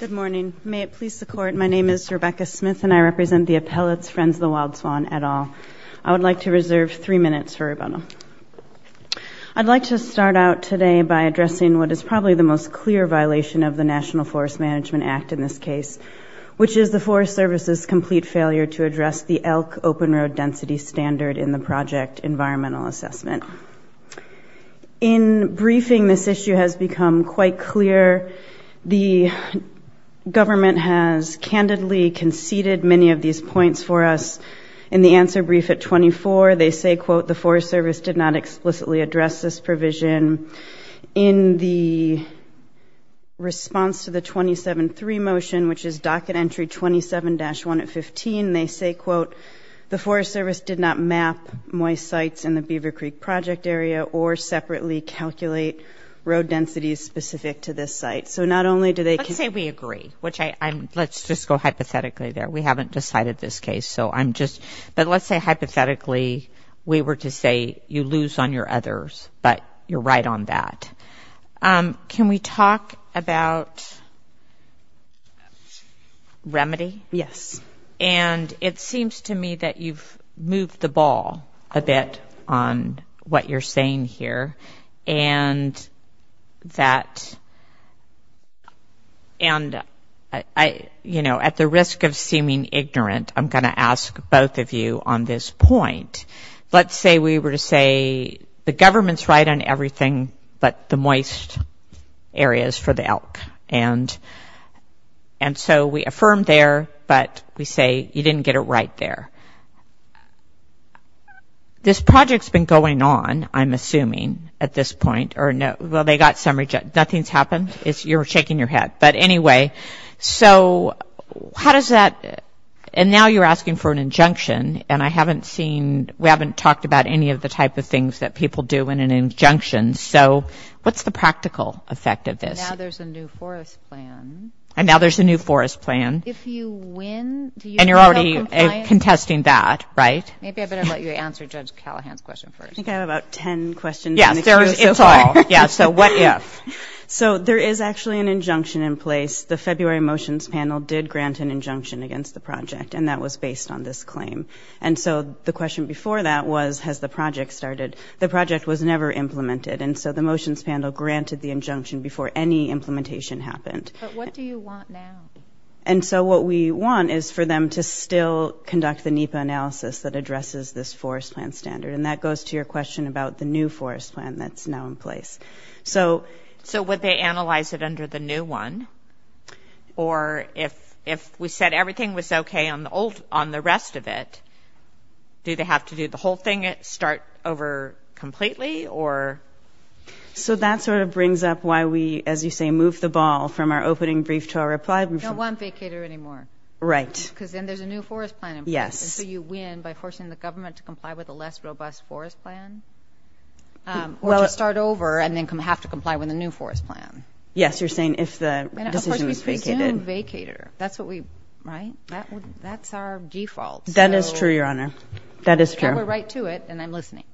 Good morning. May it please the court, my name is Rebecca Smith and I represent the appellate's Friends of the Wild Swan et al. I would like to reserve three minutes for rebuttal. I'd like to start out today by addressing what is probably the most clear violation of the National Forest Management Act in this case, which is the Forest Service's complete failure to address the elk open road density standard in the project environmental assessment. In briefing, this issue has become quite clear. The government has candidly conceded many of these points for us. In the answer brief at 24, they say, quote, the Forest Service did not explicitly address this provision. In the response to the 27-3 motion, which is docket entry 27-1 at 15, they say, quote, the Forest Service did not map moist sites in the Beaver Creek project area or separately calculate road densities specific to this site. So not only do they – Let's say we agree, which I – let's just go hypothetically there. We haven't decided this case, so I'm just – but let's say hypothetically we were to say you lose on your others, but you're right on that. Can we talk about remedy? Yes. And it seems to me that you've moved the ball a bit on what you're saying here. And that – and, you know, at the risk of seeming ignorant, I'm going to ask both of you on this point. Let's say we were to say the government's right on everything but the moist areas for the elk. And so we affirm there, but we say you didn't get it right there. This project's been going on, I'm assuming, at this point, or – well, they got some – nothing's happened? You're shaking your head. But anyway, so how does that – and now you're asking for an injunction, and I haven't seen – we haven't talked about any of the type of things that people do in an injunction. So what's the practical effect of this? Now there's a new forest plan. And now there's a new forest plan. If you win, do you still have compliance? And you're already contesting that, right? Maybe I better let you answer Judge Callahan's question first. I think I have about ten questions. Yes, there is. It's all. Yeah, so what if? So there is actually an injunction in place. The February motions panel did grant an injunction against the project, and that was based on this claim. And so the question before that was has the project started. The project was never implemented. And so the motions panel granted the injunction before any implementation happened. But what do you want now? And so what we want is for them to still conduct the NEPA analysis that addresses this forest plan standard. And that goes to your question about the new forest plan that's now in place. So would they analyze it under the new one? Or if we said everything was okay on the rest of it, do they have to do the whole thing, start over completely, or? So that sort of brings up why we, as you say, move the ball from our opening brief to our reply. We don't want vacater anymore. Right. Because then there's a new forest plan in place. Yes. And so you win by forcing the government to comply with a less robust forest plan, or to start over and then have to comply with a new forest plan. Yes, you're saying if the decision is vacated. And, of course, we presume vacater. That's what we, right? That's our default. That is true, Your Honor. That is true. I have a right to it, and I'm listening.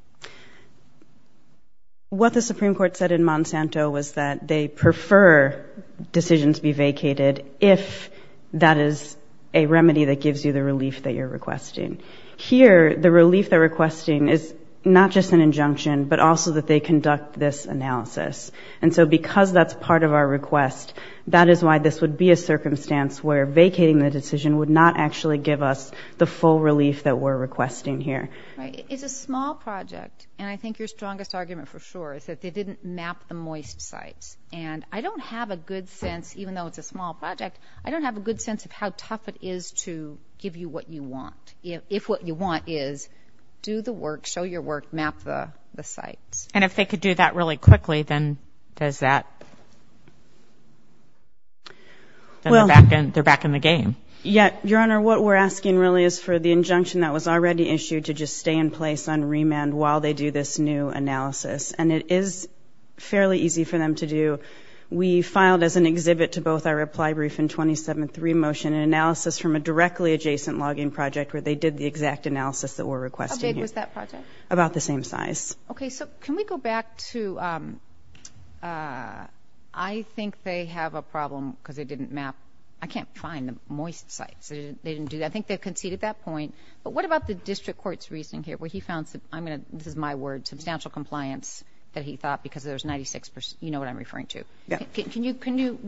What the Supreme Court said in Monsanto was that they prefer decisions be vacated if that is a remedy that gives you the relief that you're requesting. Here, the relief they're requesting is not just an injunction, but also that they conduct this analysis. And so because that's part of our request, that is why this would be a circumstance where vacating the decision would not actually give us the full relief that we're requesting here. Right. It's a small project, and I think your strongest argument for sure is that they didn't map the moist sites. And I don't have a good sense, even though it's a small project, I don't have a good sense of how tough it is to give you what you want if what you want is do the work, show your work, map the sites. And if they could do that really quickly, then does that? Then they're back in the game. Your Honor, what we're asking really is for the injunction that was already issued to just stay in place on remand while they do this new analysis. And it is fairly easy for them to do. We filed as an exhibit to both our reply brief and 27th remotion an analysis from a directly adjacent logging project where they did the exact analysis that we're requesting here. How big was that project? About the same size. Okay. So can we go back to I think they have a problem because they didn't map. I can't find the moist sites. They didn't do that. I think they conceded that point. But what about the district court's reasoning here where he found some, this is my word, substantial compliance that he thought because there's 96% you know what I'm referring to. Yeah.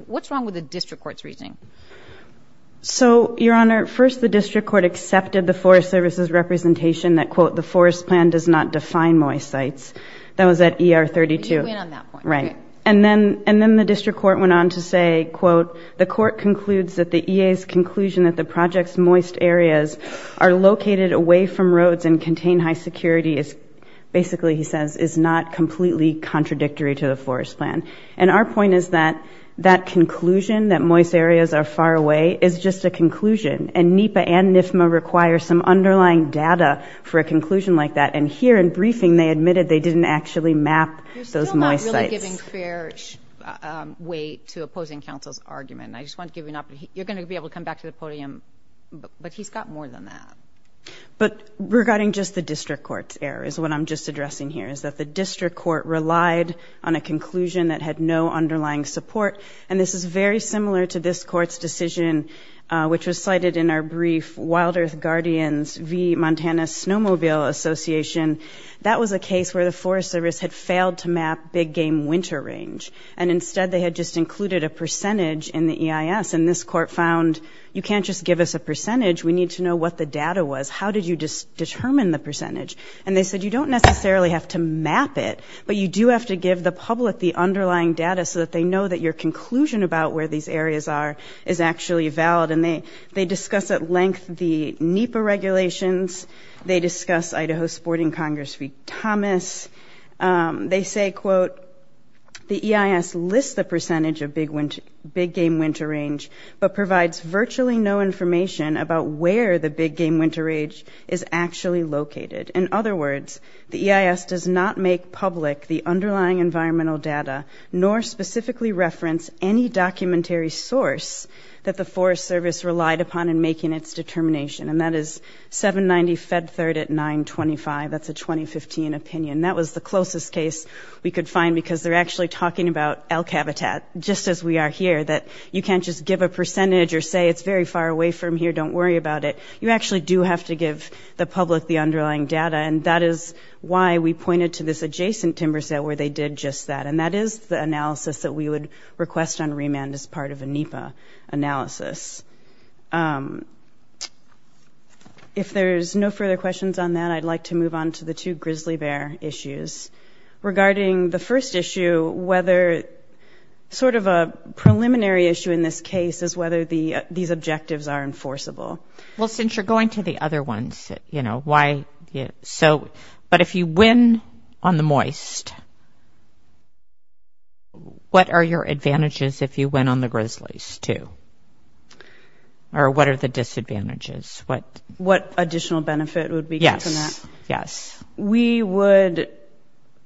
What's wrong with the district court's reasoning? So, Your Honor, first the district court accepted the Forest Service's That was at ER 32. You win on that point. Right. And then the district court went on to say, quote, the court concludes that the EA's conclusion that the project's moist areas are located away from roads and contain high security is basically, he says, is not completely contradictory to the Forest Plan. And our point is that that conclusion, that moist areas are far away, is just a conclusion. And NEPA and NIFMA require some underlying data for a conclusion like that. And here in briefing they admitted they didn't actually map those moist sites. You're still not really giving fair weight to opposing counsel's argument. I just want to give you an opportunity. You're going to be able to come back to the podium. But he's got more than that. But regarding just the district court's error is what I'm just addressing here, is that the district court relied on a conclusion that had no underlying support. And this is very similar to this court's decision, which was cited in our brief Wild Earth Guardians v. Conservation. That was a case where the Forest Service had failed to map big game winter range. And instead they had just included a percentage in the EIS. And this court found you can't just give us a percentage. We need to know what the data was. How did you determine the percentage? And they said you don't necessarily have to map it, but you do have to give the public the underlying data so that they know that your conclusion about where these areas are is actually valid. And they discuss at length the NEPA regulations. They discuss Idaho Sporting Congress v. Thomas. They say, quote, the EIS lists the percentage of big game winter range, but provides virtually no information about where the big game winter age is actually located. In other words, the EIS does not make public the underlying environmental data, nor specifically reference any documentary source that the Forest Service relied upon in making its determination. And that is 790 Fed Third at 925. That's a 2015 opinion. That was the closest case we could find, because they're actually talking about elk habitat, just as we are here, that you can't just give a percentage or say it's very far away from here, don't worry about it. You actually do have to give the public the underlying data. And that is why we pointed to this adjacent timber set where they did just that. And that is the analysis that we would request on remand as part of a NEPA analysis. If there's no further questions on that, I'd like to move on to the two grizzly bear issues. Regarding the first issue, whether sort of a preliminary issue in this case is whether the, these objectives are enforceable. Well, since you're going to the other ones, you know why? Yeah. So, but if you win on the moist, what are your advantages? If you went on the grizzlies too, or what are the disadvantages? What additional benefit would we get from that? Yes. We would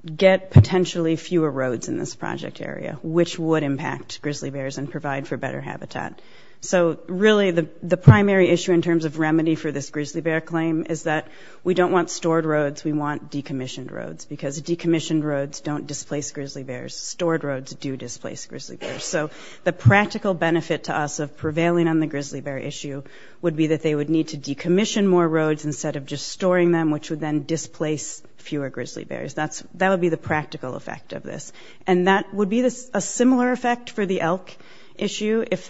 get potentially fewer roads in this project area, which would impact grizzly bears and provide for better habitat. So really the primary issue in terms of remedy for this grizzly bear claim is that we don't want stored roads. We want decommissioned roads because decommissioned roads don't displace grizzly bears. Stored roads do displace grizzly bears. So the practical benefit to us of prevailing on the grizzly bear issue would be that they would need to decommission more roads instead of just storing them, which would then displace fewer grizzly bears. That would be the practical effect of this. And that would be a similar effect for the elk issue if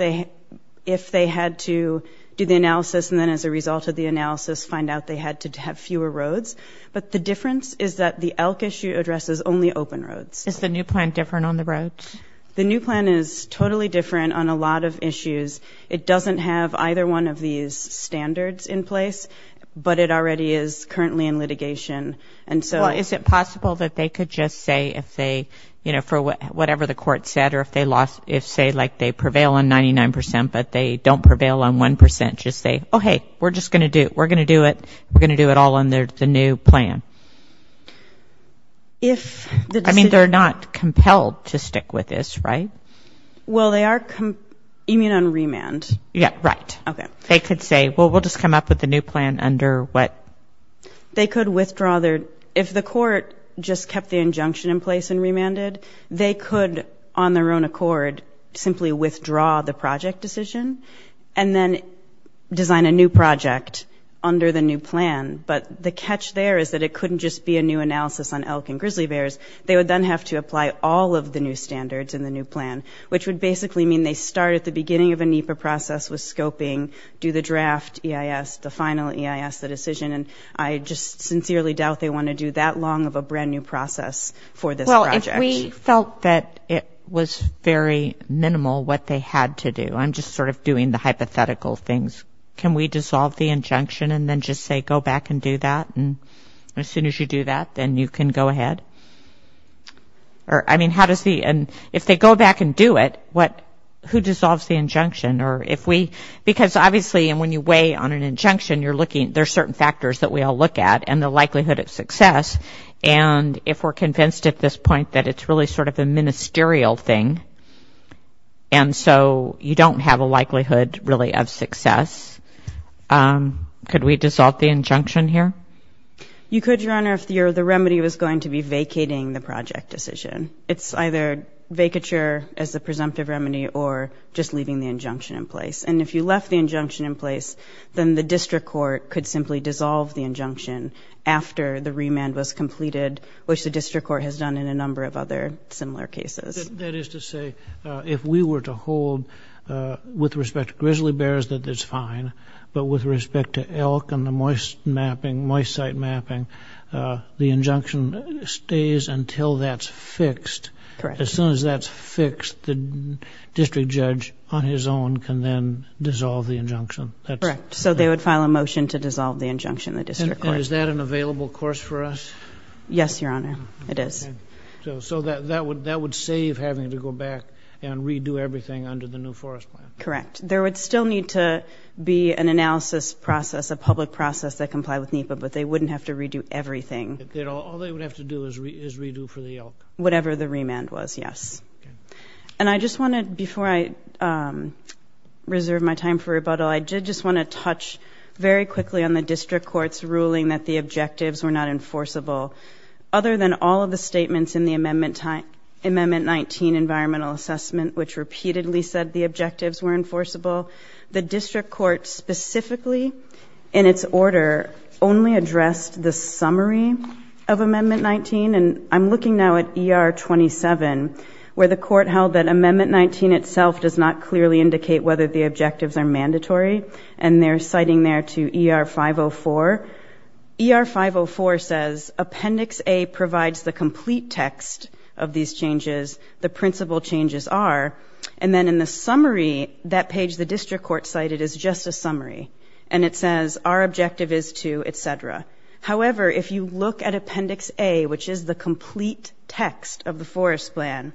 they had to do the analysis and then as a result of the analysis find out they had to have fewer roads. But the difference is that the elk issue addresses only open roads. Is the new plan different on the roads? The new plan is totally different on a lot of issues. It doesn't have either one of these standards in place, but it already is currently in litigation. And so is it possible that they could just say if they, you know, for whatever the court said or if they lost, if say like they prevail on 99% but they don't prevail on 1%, just say, oh, hey, we're just going to do it. We're going to do it. We're going to do it all under the new plan. I mean, they're not compelled to stick with this, right? Well, they are, you mean on remand? Yeah, right. Okay. They could say, well, we'll just come up with a new plan under what? They could withdraw their, if the court just kept the injunction in place and remanded, they could on their own accord simply withdraw the project decision and then design a new project under the new plan. But the catch there is that it couldn't just be a new analysis on elk and grizzly bears. They would then have to apply all of the new standards in the new plan, which would basically mean they start at the beginning of a NEPA process with scoping, do the draft EIS, the final EIS, the decision. And I just sincerely doubt they want to do that long of a brand new process for this project. Well, if we felt that it was very minimal what they had to do, I'm just sort of doing the hypothetical things, can we dissolve the injunction and then just say go back and do that? And as soon as you do that, then you can go ahead? Or, I mean, how does the, if they go back and do it, who dissolves the injunction? Or if we, because obviously when you weigh on an injunction, you're looking, there's certain factors that we all look at and the likelihood of success. And if we're convinced at this point that it's really sort of a ministerial thing and so you don't have a likelihood really of success, could we dissolve the injunction here? You could, Your Honor, if the remedy was going to be vacating the project decision. It's either vacature as a presumptive remedy or just leaving the injunction in place. And if you left the injunction in place, then the district court could simply dissolve the injunction after the remand was completed, which the district court has done in a number of other similar cases. That is to say, if we were to hold, with respect to grizzly bears, that it's fine, but with respect to elk and the moist mapping, moist site mapping, the injunction stays until that's fixed. Correct. As soon as that's fixed, the district judge on his own can then dissolve the injunction. Correct. So they would file a motion to dissolve the injunction in the district court. And is that an available course for us? Yes, Your Honor, it is. Okay. So that would save having to go back and redo everything under the new forest plan. Correct. There would still need to be an analysis process, a public process that complied with NEPA, but they wouldn't have to redo everything. All they would have to do is redo for the elk. Whatever the remand was, yes. And I just want to, before I reserve my time for rebuttal, I did just want to touch very quickly on the district court's ruling that the objectives were not enforceable. Other than all of the statements in the Amendment 19 Environmental Assessment, which repeatedly said the objectives were enforceable, the district court specifically in its order only addressed the summary of Amendment 19. And I'm looking now at ER 27, where the court held that Amendment 19 itself does not clearly indicate whether the objectives are mandatory. And they're citing there to ER 504. ER 504 says Appendix A provides the complete text of these changes, the principal changes are. And then in the summary, that page the district court cited is just a summary. And it says our objective is to, et cetera. However, if you look at Appendix A, which is the complete text of the forest plan,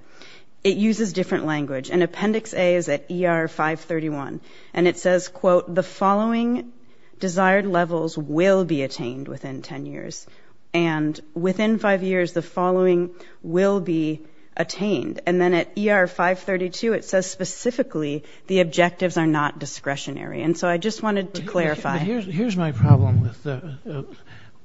it uses different language. And Appendix A is at ER 531. And it says, quote, the following desired levels will be attained within 10 years. And within five years, the following will be attained. And then at ER 532, it says specifically the objectives are not discretionary. And so I just wanted to clarify. Here's my problem with the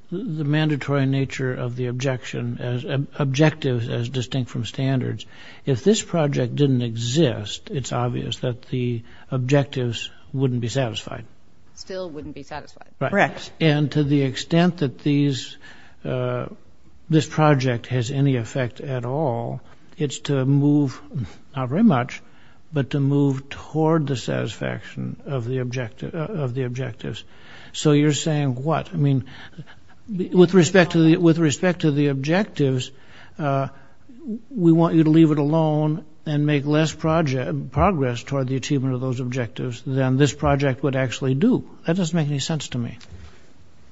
mandatory nature of the objection, objectives as distinct from standards. If this project didn't exist, it's obvious that the objectives wouldn't be satisfied. Still wouldn't be satisfied. Correct. And to the extent that this project has any effect at all, it's to move, not very much, but to move toward the satisfaction of the objectives. So you're saying what? I mean, with respect to the objectives, we want you to leave it alone and make less progress toward the achievement of those objectives than this project would actually do. That doesn't make any sense to me.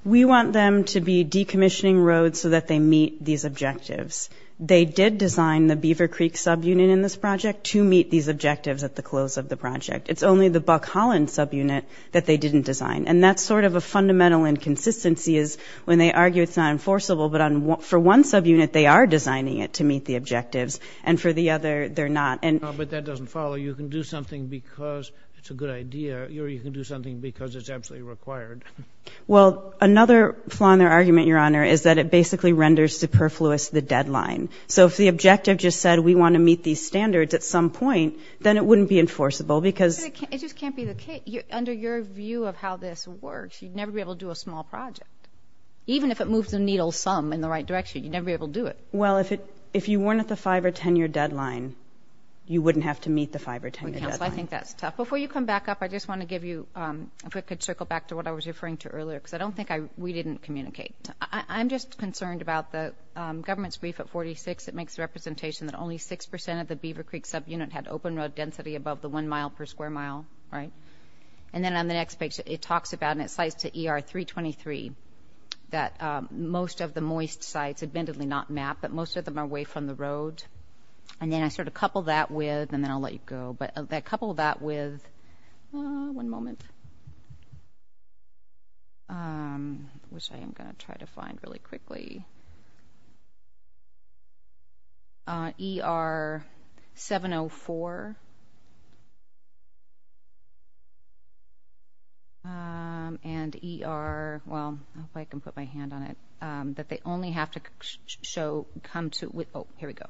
We want them to be decommissioning roads so that they meet these objectives. They did design the Beaver Creek subunit in this project to meet these objectives at the close of the project. It's only the Buck Holland subunit that they didn't design. And that's sort of a fundamental inconsistency is when they argue it's not enforceable, but for one subunit they are designing it to meet the objectives, and for the other they're not. But that doesn't follow. You can do something because it's a good idea, or you can do something because it's absolutely required. Well, another flaw in their argument, Your Honor, is that it basically renders superfluous the deadline. So if the objective just said we want to meet these standards at some point, then it wouldn't be enforceable because It just can't be the case. Under your view of how this works, you'd never be able to do a small project. Even if it moves the needle some in the right direction, you'd never be able to do it. Well, if you weren't at the 5- or 10-year deadline, you wouldn't have to meet the 5- or 10-year deadline. Counsel, I think that's tough. Before you come back up, I just want to give you a quick circle back to what I was referring to earlier because I don't think we didn't communicate. I'm just concerned about the government's brief at 46. It makes the representation that only 6% of the Beaver Creek subunit had open road density above the 1 mile per square mile. And then on the next page, it talks about, and it cites to ER 323, that most of the moist sites, admittedly not mapped, but most of them are away from the road. And then I sort of coupled that with, and then I'll let you go, but I coupled that with, one moment. Which I am going to try to find really quickly. ER 704 and ER, well, if I can put my hand on it, that they only have to show, come to, oh, here we go.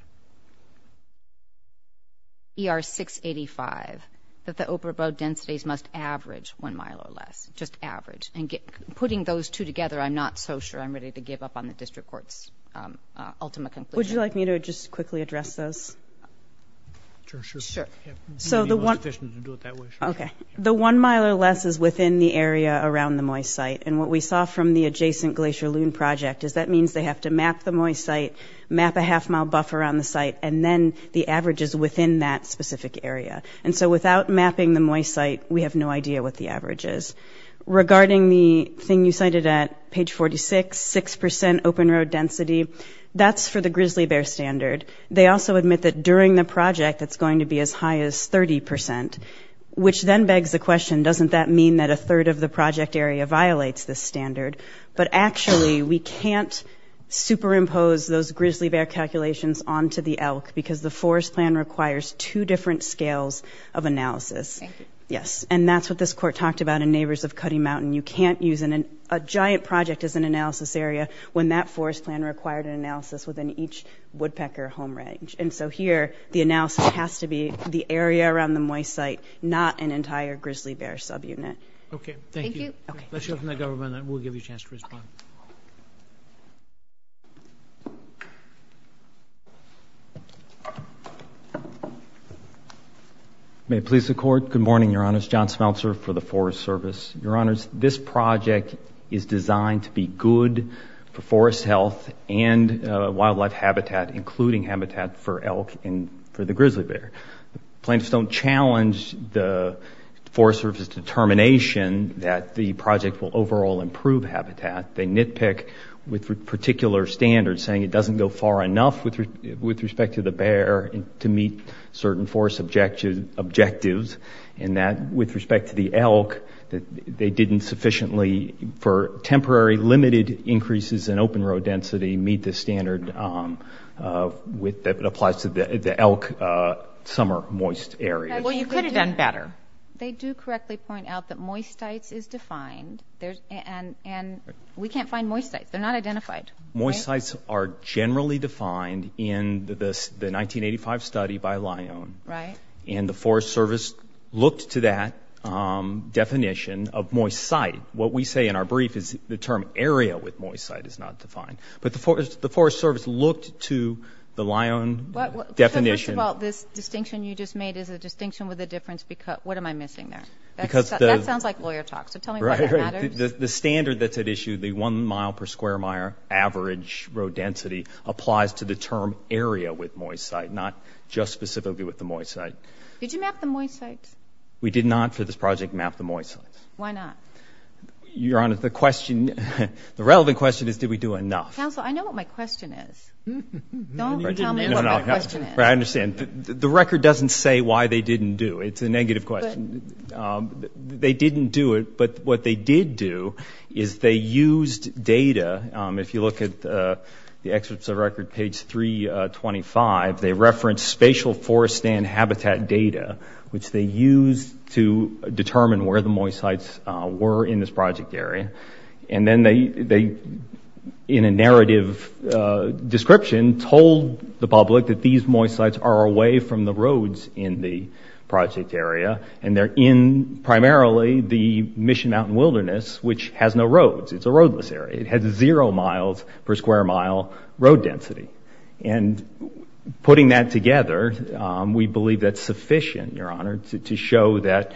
ER 685, that the open road densities must average 1 mile or less. Just average. And putting those two together, I'm not so sure I'm ready to give up on the district court's ultimate conclusion. Would you like me to just quickly address those? Sure. Sure. So the one. It would be most efficient to do it that way. Okay. The 1 mile or less is within the area around the moist site. And what we saw from the adjacent Glacier Loon project is that means they have to map the moist site, map a half mile buffer on the site, and then the average is within that specific area. And so without mapping the moist site, we have no idea what the average is. Regarding the thing you cited at page 46, 6% open road density, that's for the grizzly bear standard. They also admit that during the project it's going to be as high as 30%, which then begs the question, doesn't that mean that a third of the project area violates this standard? But actually, we can't superimpose those grizzly bear calculations onto the elk because the forest plan requires two different scales of analysis. Thank you. Yes. And that's what this court talked about in neighbors of Cutty Mountain. You can't use a giant project as an analysis area when that forest plan required an analysis within each woodpecker home range. And so here the analysis has to be the area around the moist site, not an entire grizzly bear subunit. Okay. Thank you. Okay. Let's hear from the government and we'll give you a chance to respond. May it please the Court. Good morning, Your Honors. John Smeltzer for the Forest Service. Your Honors, this project is designed to be good for forest health and wildlife habitat, including habitat for elk and for the grizzly bear. Plants don't challenge the Forest Service determination that the project will overall improve habitat. They nitpick with particular standards, saying it doesn't go far enough with respect to the bear to meet certain forest objectives, and that with respect to the elk, they didn't sufficiently, for temporary limited increases in open road density, meet the standard that applies to the elk summer moist area. Well, you could have done better. They do correctly point out that moist sites is defined, and we can't find moist sites. They're not identified. Moist sites are generally defined in the 1985 study by Lyon. Right. And the Forest Service looked to that definition of moist site. What we say in our brief is the term area with moist site is not defined. But the Forest Service looked to the Lyon definition. First of all, this distinction you just made is a distinction with a difference. What am I missing there? That sounds like lawyer talk, so tell me why that matters. Right. The standard that's at issue, the one mile per square mile average road density, applies to the term area with moist site, not just specifically with the moist site. Did you map the moist sites? We did not for this project map the moist sites. Why not? Your Honor, the relevant question is, did we do enough? Counsel, I know what my question is. Don't tell me what my question is. I understand. The record doesn't say why they didn't do. It's a negative question. They didn't do it, but what they did do is they used data. If you look at the excerpts of the record, page 325, they referenced spatial forest and habitat data, which they used to determine where the moist sites were in this project area. And then they, in a narrative description, told the public that these moist sites are away from the roads in the project area, and they're in primarily the Mission Mountain Wilderness, which has no roads. It's a roadless area. It has zero miles per square mile road density. And putting that together, we believe that's sufficient, Your Honor, to show that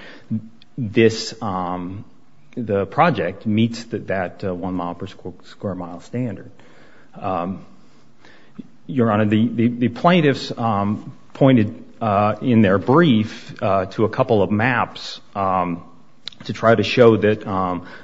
the project meets that one mile per square mile standard. Your Honor, the plaintiffs pointed in their brief to a couple of maps to try to show that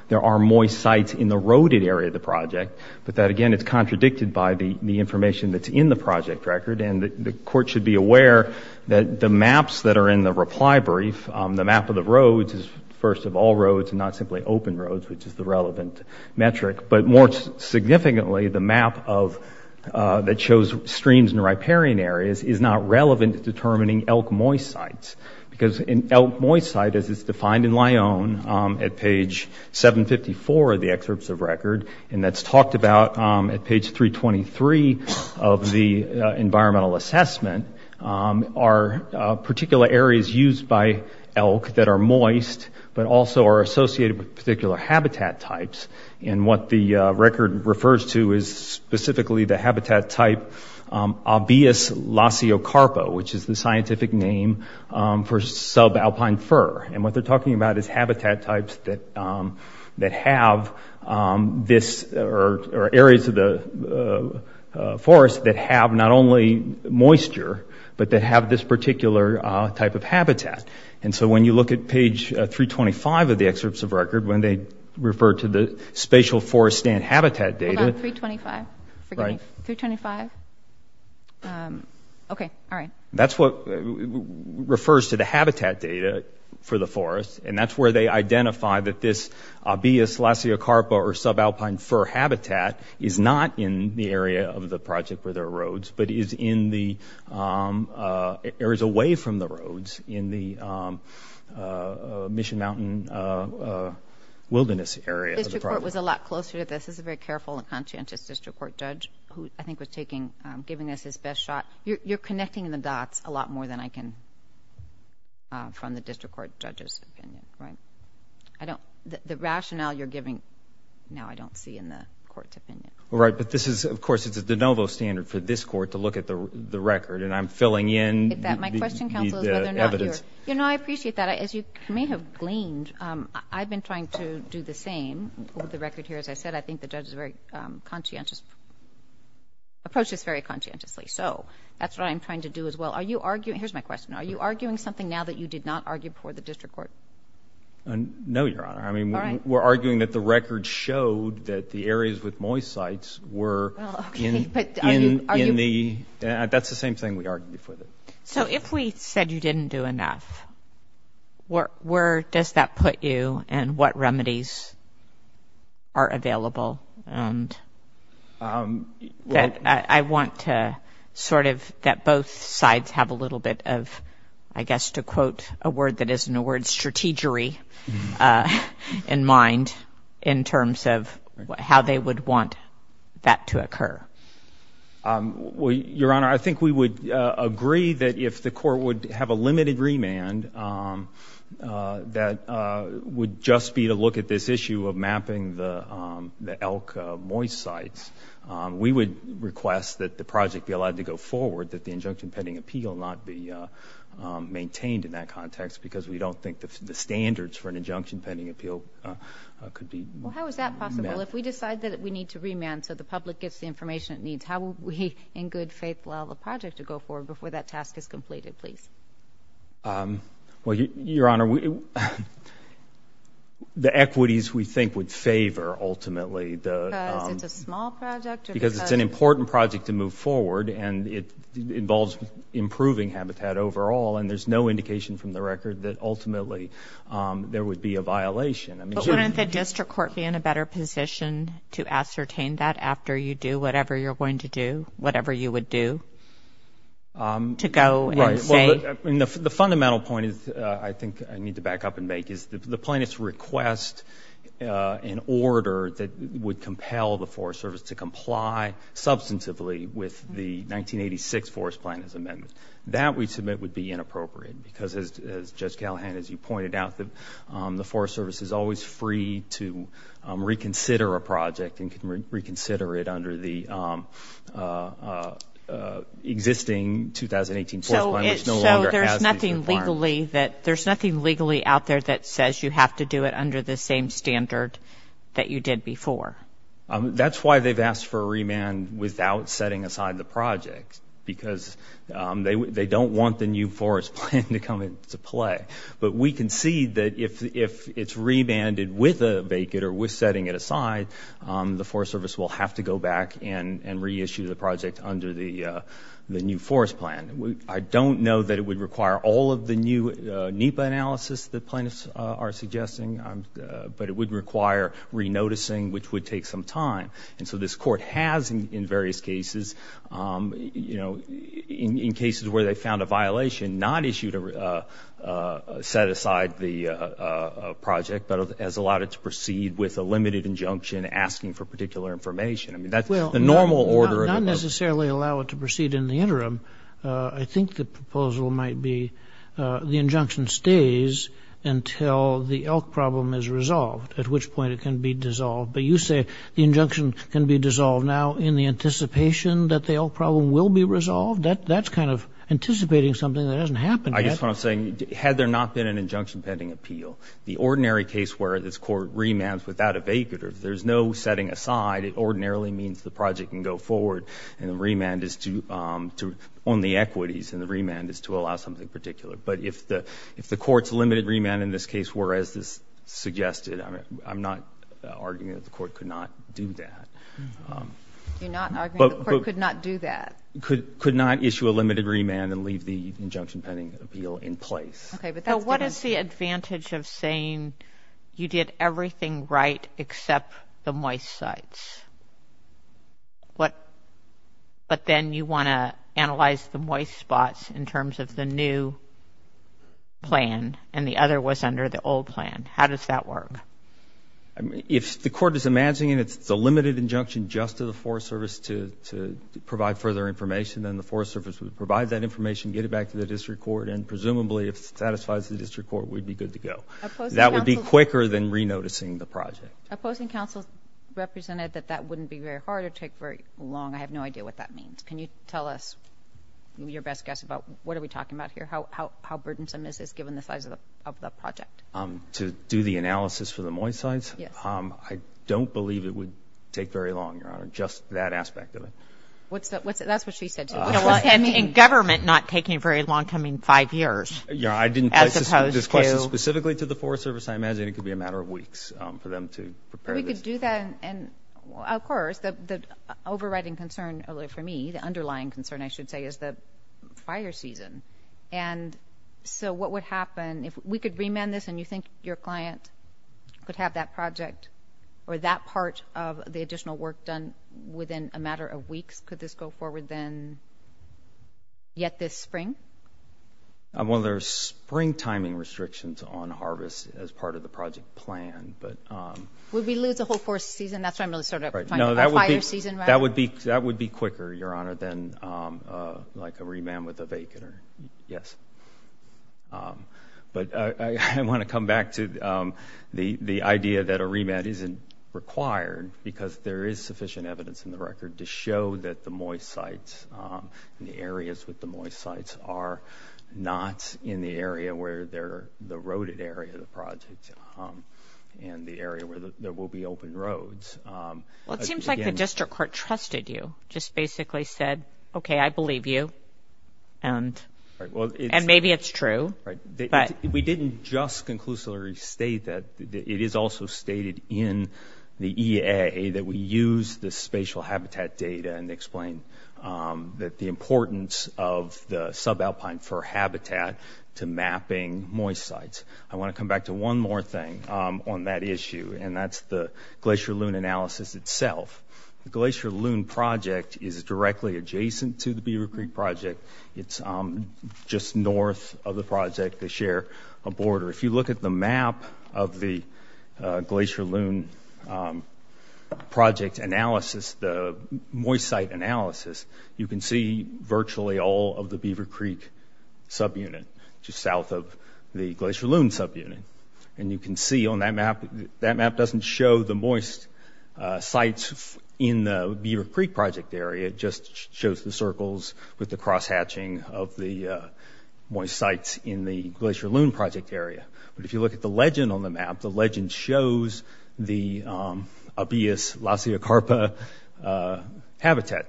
there are moist sites in the roaded area of the project, but that, again, it's contradicted by the information that's in the project record, and the court should be aware that the maps that are in the reply brief, the map of the roads is first of all roads and not simply open roads, which is the relevant metric. But more significantly, the map that shows streams and riparian areas is not relevant to determining elk moist sites, because an elk moist site, as it's defined in Lyon at page 754 of the excerpts of record, and that's talked about at page 323 of the environmental assessment, are particular areas used by elk that are moist, but also are associated with particular habitat types. And what the record refers to is specifically the habitat type Obeas laciocarpa, which is the scientific name for subalpine fur. And what they're talking about is habitat types that have this – or areas of the forest that have not only moisture, but that have this particular type of habitat. And so when you look at page 325 of the excerpts of record, when they refer to the spatial forest stand habitat data – Hold on. 325. Forgive me. 325. Okay. All right. That's what refers to the habitat data for the forest. And that's where they identify that this Obeas laciocarpa or subalpine fur habitat is not in the area of the project where there are roads, but is in the areas away from the roads in the Mission Mountain Wilderness Area. The district court was a lot closer to this. This is a very careful and conscientious district court judge who I think was taking – giving us his best shot. You're connecting the dots a lot more than I can from the district court judge's opinion, right? I don't – the rationale you're giving now I don't see in the court's opinion. Right. But this is – of course, it's a de novo standard for this court to look at the record. And I'm filling in the evidence. My question, counsel, is whether or not you're – you know, I appreciate that. As you may have gleaned, I've been trying to do the same with the record here. As I said, I think the judge is very conscientious – approaches very conscientiously. So that's what I'm trying to do as well. Are you arguing – here's my question. Are you arguing something now that you did not argue before the district court? No, Your Honor. I mean, we're arguing that the record showed that the areas with moist sites were in the – that's the same thing we argued before. So if we said you didn't do enough, where does that put you and what remedies are available? And I want to sort of – that both sides have a little bit of, I guess, to quote a word that isn't a word, strategery in mind in terms of how they would want that to occur. Your Honor, I think we would agree that if the court would have a limited remand, that would just be to look at this issue of mapping the elk moist sites. We would request that the project be allowed to go forward, that the injunction pending appeal not be maintained in that context because we don't think the standards for an injunction pending appeal could be met. Well, how is that possible? If we decide that we need to remand so the public gets the information it needs, how would we in good faith allow the project to go forward before that task is completed, please? Well, Your Honor, the equities we think would favor ultimately the – Because it's a small project or because – Because it's an important project to move forward and it involves improving habitat overall, and there's no indication from the record that ultimately there would be a violation. But wouldn't the district court be in a better position to ascertain that after you do whatever you're going to do, whatever you would do, to go and say – The fundamental point I think I need to back up and make is the plaintiff's request in order that would compel the Forest Service to comply substantively with the 1986 Forest Plan as amendment, that we submit would be inappropriate because as Judge Callahan, as you pointed out, the Forest Service is always free to reconsider a project and can reconsider it under the existing 2018 Forest Plan. So there's nothing legally out there that says you have to do it under the same standard that you did before? That's why they've asked for a remand without setting aside the project because they don't want the new Forest Plan to come into play. But we concede that if it's remanded with a vacant or with setting it aside, the Forest Service will have to go back and reissue the project under the new Forest Plan. I don't know that it would require all of the new NEPA analysis that plaintiffs are suggesting, but it would require re-noticing, which would take some time. And so this court has, in various cases, in cases where they found a violation, not issued a set aside the project, but has allowed it to proceed with a limited injunction asking for particular information. I mean, that's the normal order. Well, not necessarily allow it to proceed in the interim. I think the proposal might be the injunction stays until the elk problem is resolved, at which point it can be dissolved. But you say the injunction can be dissolved now in the anticipation that the elk problem will be resolved? That's kind of anticipating something that hasn't happened yet. I guess what I'm saying, had there not been an injunction pending appeal, the ordinary case where this court remands without a vacant, or if there's no setting aside, it ordinarily means the project can go forward and the remand is to own the equities and the remand is to allow something particular. But if the court's limited remand in this case, whereas this suggested, I'm not arguing that the court could not do that. You're not arguing the court could not do that. Could not issue a limited remand and leave the injunction pending appeal in place. What is the advantage of saying you did everything right except the moist sites? But then you want to analyze the moist spots in terms of the new plan and the other was under the old plan. How does that work? If the court is imagining it's a limited injunction just to the Forest Service to provide further information, then the Forest Service would provide that information, get it back to the district court, and presumably, if it satisfies the district court, we'd be good to go. That would be quicker than re-noticing the project. Opposing counsel represented that that wouldn't be very hard or take very long. I have no idea what that means. Can you tell us, your best guess, about what are we talking about here? How burdensome is this given the size of the project? To do the analysis for the moist sites? I don't believe it would take very long, Your Honor. Just that aspect of it. That's what she said to me. In government, not taking very long, coming five years. Yeah, I didn't place this question specifically to the Forest Service. I imagine it could be a matter of weeks for them to prepare this. We could do that. Of course, the overriding concern for me, the underlying concern, I should say, is the fire season. And so what would happen if we could remand this and you think your client could have that project or that part of the additional work done within a matter of weeks? Could this go forward then yet this spring? Well, there's spring timing restrictions on harvest as part of the project plan. Would we lose the whole forest season? That's what I'm really talking about. No, that would be quicker, Your Honor, than like a remand with a vacant. Yes. But I want to come back to the idea that a remand isn't required because there is sufficient evidence in the record to show that the moist sites and the areas with the moist sites are not in the area where they're the roaded area of the project and the area where there will be open roads. Well, it seems like the district court trusted you, just basically said, okay, I believe you, and maybe it's true. We didn't just conclusively state that. It is also stated in the EA that we use the spatial habitat data and explain that the importance of the subalpine for habitat to mapping moist sites. I want to come back to one more thing on that issue, and that's the Glacier Loon analysis itself. The Glacier Loon project is directly adjacent to the Beaver Creek project. It's just north of the project. They share a border. If you look at the map of the Glacier Loon project analysis, the moist site analysis, you can see virtually all of the Beaver Creek subunit just south of the Glacier Loon subunit. And you can see on that map, that map doesn't show the moist sites in the Beaver Creek project area. It just shows the circles with the cross-hatching of the moist sites in the Glacier Loon project area. But if you look at the legend on the map, the legend shows the abeas laciocarpa habitat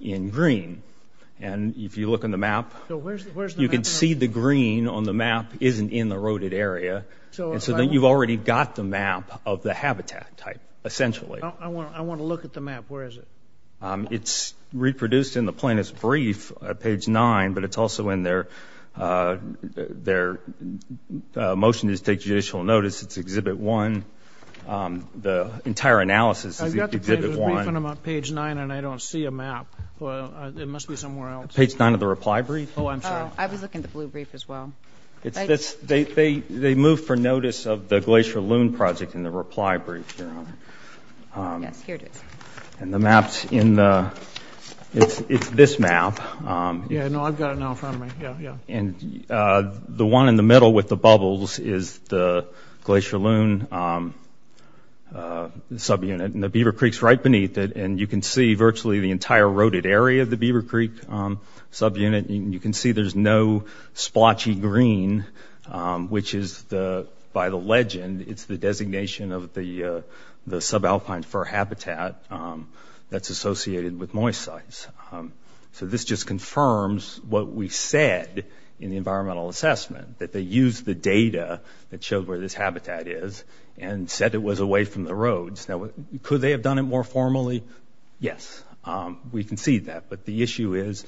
in green. And if you look on the map, you can see the green on the map isn't in the roaded area. And so then you've already got the map of the habitat type, essentially. I want to look at the map. Where is it? It's reproduced in the plaintiff's brief at page 9, but it's also in their motion to take judicial notice. It's Exhibit 1. The entire analysis is Exhibit 1. I've got the plaintiff's brief, and I'm on page 9, and I don't see a map. It must be somewhere else. Page 9 of the reply brief. Oh, I'm sorry. I was looking at the blue brief as well. They moved for notice of the Glacier Loon project in the reply brief here. Yes, here it is. And the map's in the – it's this map. Yeah, no, I've got it now in front of me. Yeah, yeah. And the one in the middle with the bubbles is the Glacier Loon subunit. And the Beaver Creek's right beneath it. And you can see virtually the entire roaded area of the Beaver Creek subunit. And you can see there's no splotchy green, which is, by the legend, it's the designation of the subalpine fur habitat that's associated with moist sites. So this just confirms what we said in the environmental assessment, that they used the data that showed where this habitat is and said it was away from the roads. Now, could they have done it more formally? Yes. We concede that. But the issue is,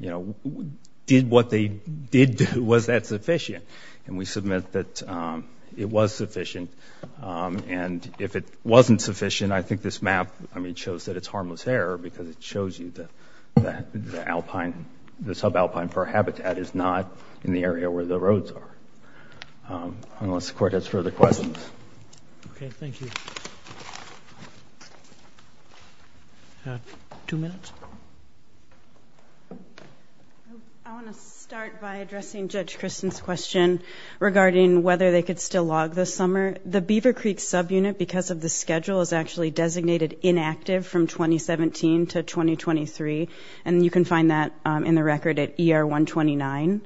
you know, did what they did, was that sufficient? And we submit that it was sufficient. And if it wasn't sufficient, I think this map, I mean, shows that it's harmless error because it shows you that the subalpine fur habitat is not in the area where the roads are. Unless the Court has further questions. Okay. Thank you. Thank you. Two minutes. I want to start by addressing Judge Kristen's question regarding whether they could still log this summer. The Beaver Creek subunit, because of the schedule, is actually designated inactive from 2017 to 2023. And you can find that in the record at ER-129,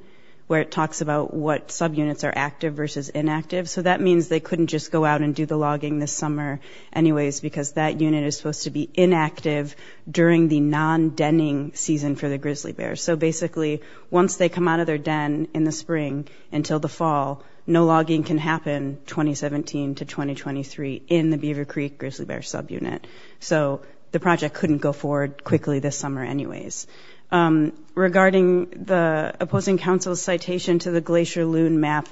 where it talks about what subunits are active versus inactive. So that means they couldn't just go out and do the logging this summer anyways because that unit is supposed to be inactive during the non-denning season for the grizzly bears. So basically, once they come out of their den in the spring until the fall, no logging can happen 2017 to 2023 in the Beaver Creek grizzly bear subunit. So the project couldn't go forward quickly this summer anyways. Regarding the opposing counsel's citation to the Glacier Loon map,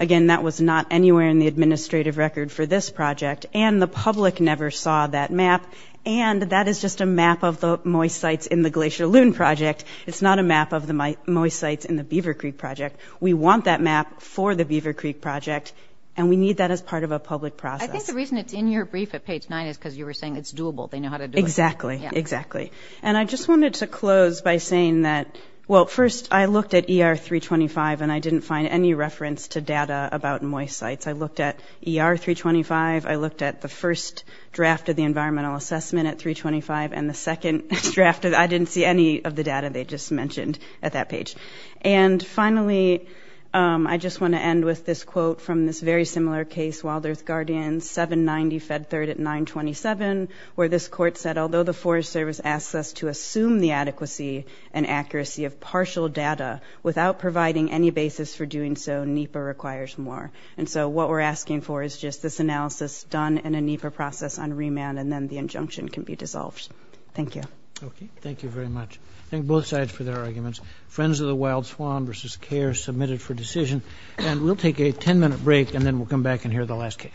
again, that was not anywhere in the administrative record for this project, and the public never saw that map, and that is just a map of the moist sites in the Glacier Loon project. It's not a map of the moist sites in the Beaver Creek project. We want that map for the Beaver Creek project, and we need that as part of a public process. I think the reason it's in your brief at page 9 is because you were saying it's doable. They know how to do it. Exactly, exactly. And I just wanted to close by saying that, well, first, I looked at ER-325, and I didn't find any reference to data about moist sites. I looked at ER-325. I looked at the first draft of the environmental assessment at 325, and the second draft, I didn't see any of the data they just mentioned at that page. And finally, I just want to end with this quote from this very similar case, Wild Earth Guardian, 790 Fed Third at 927, where this court said, although the Forest Service asks us to assume the adequacy and accuracy of partial data without providing any basis for doing so, NEPA requires more. And so what we're asking for is just this analysis done in a NEPA process on remand, and then the injunction can be dissolved. Thank you. Okay. Thank you very much. Thank both sides for their arguments. Friends of the Wild Swamp versus CARES submitted for decision. And we'll take a 10-minute break, and then we'll come back and hear the last case.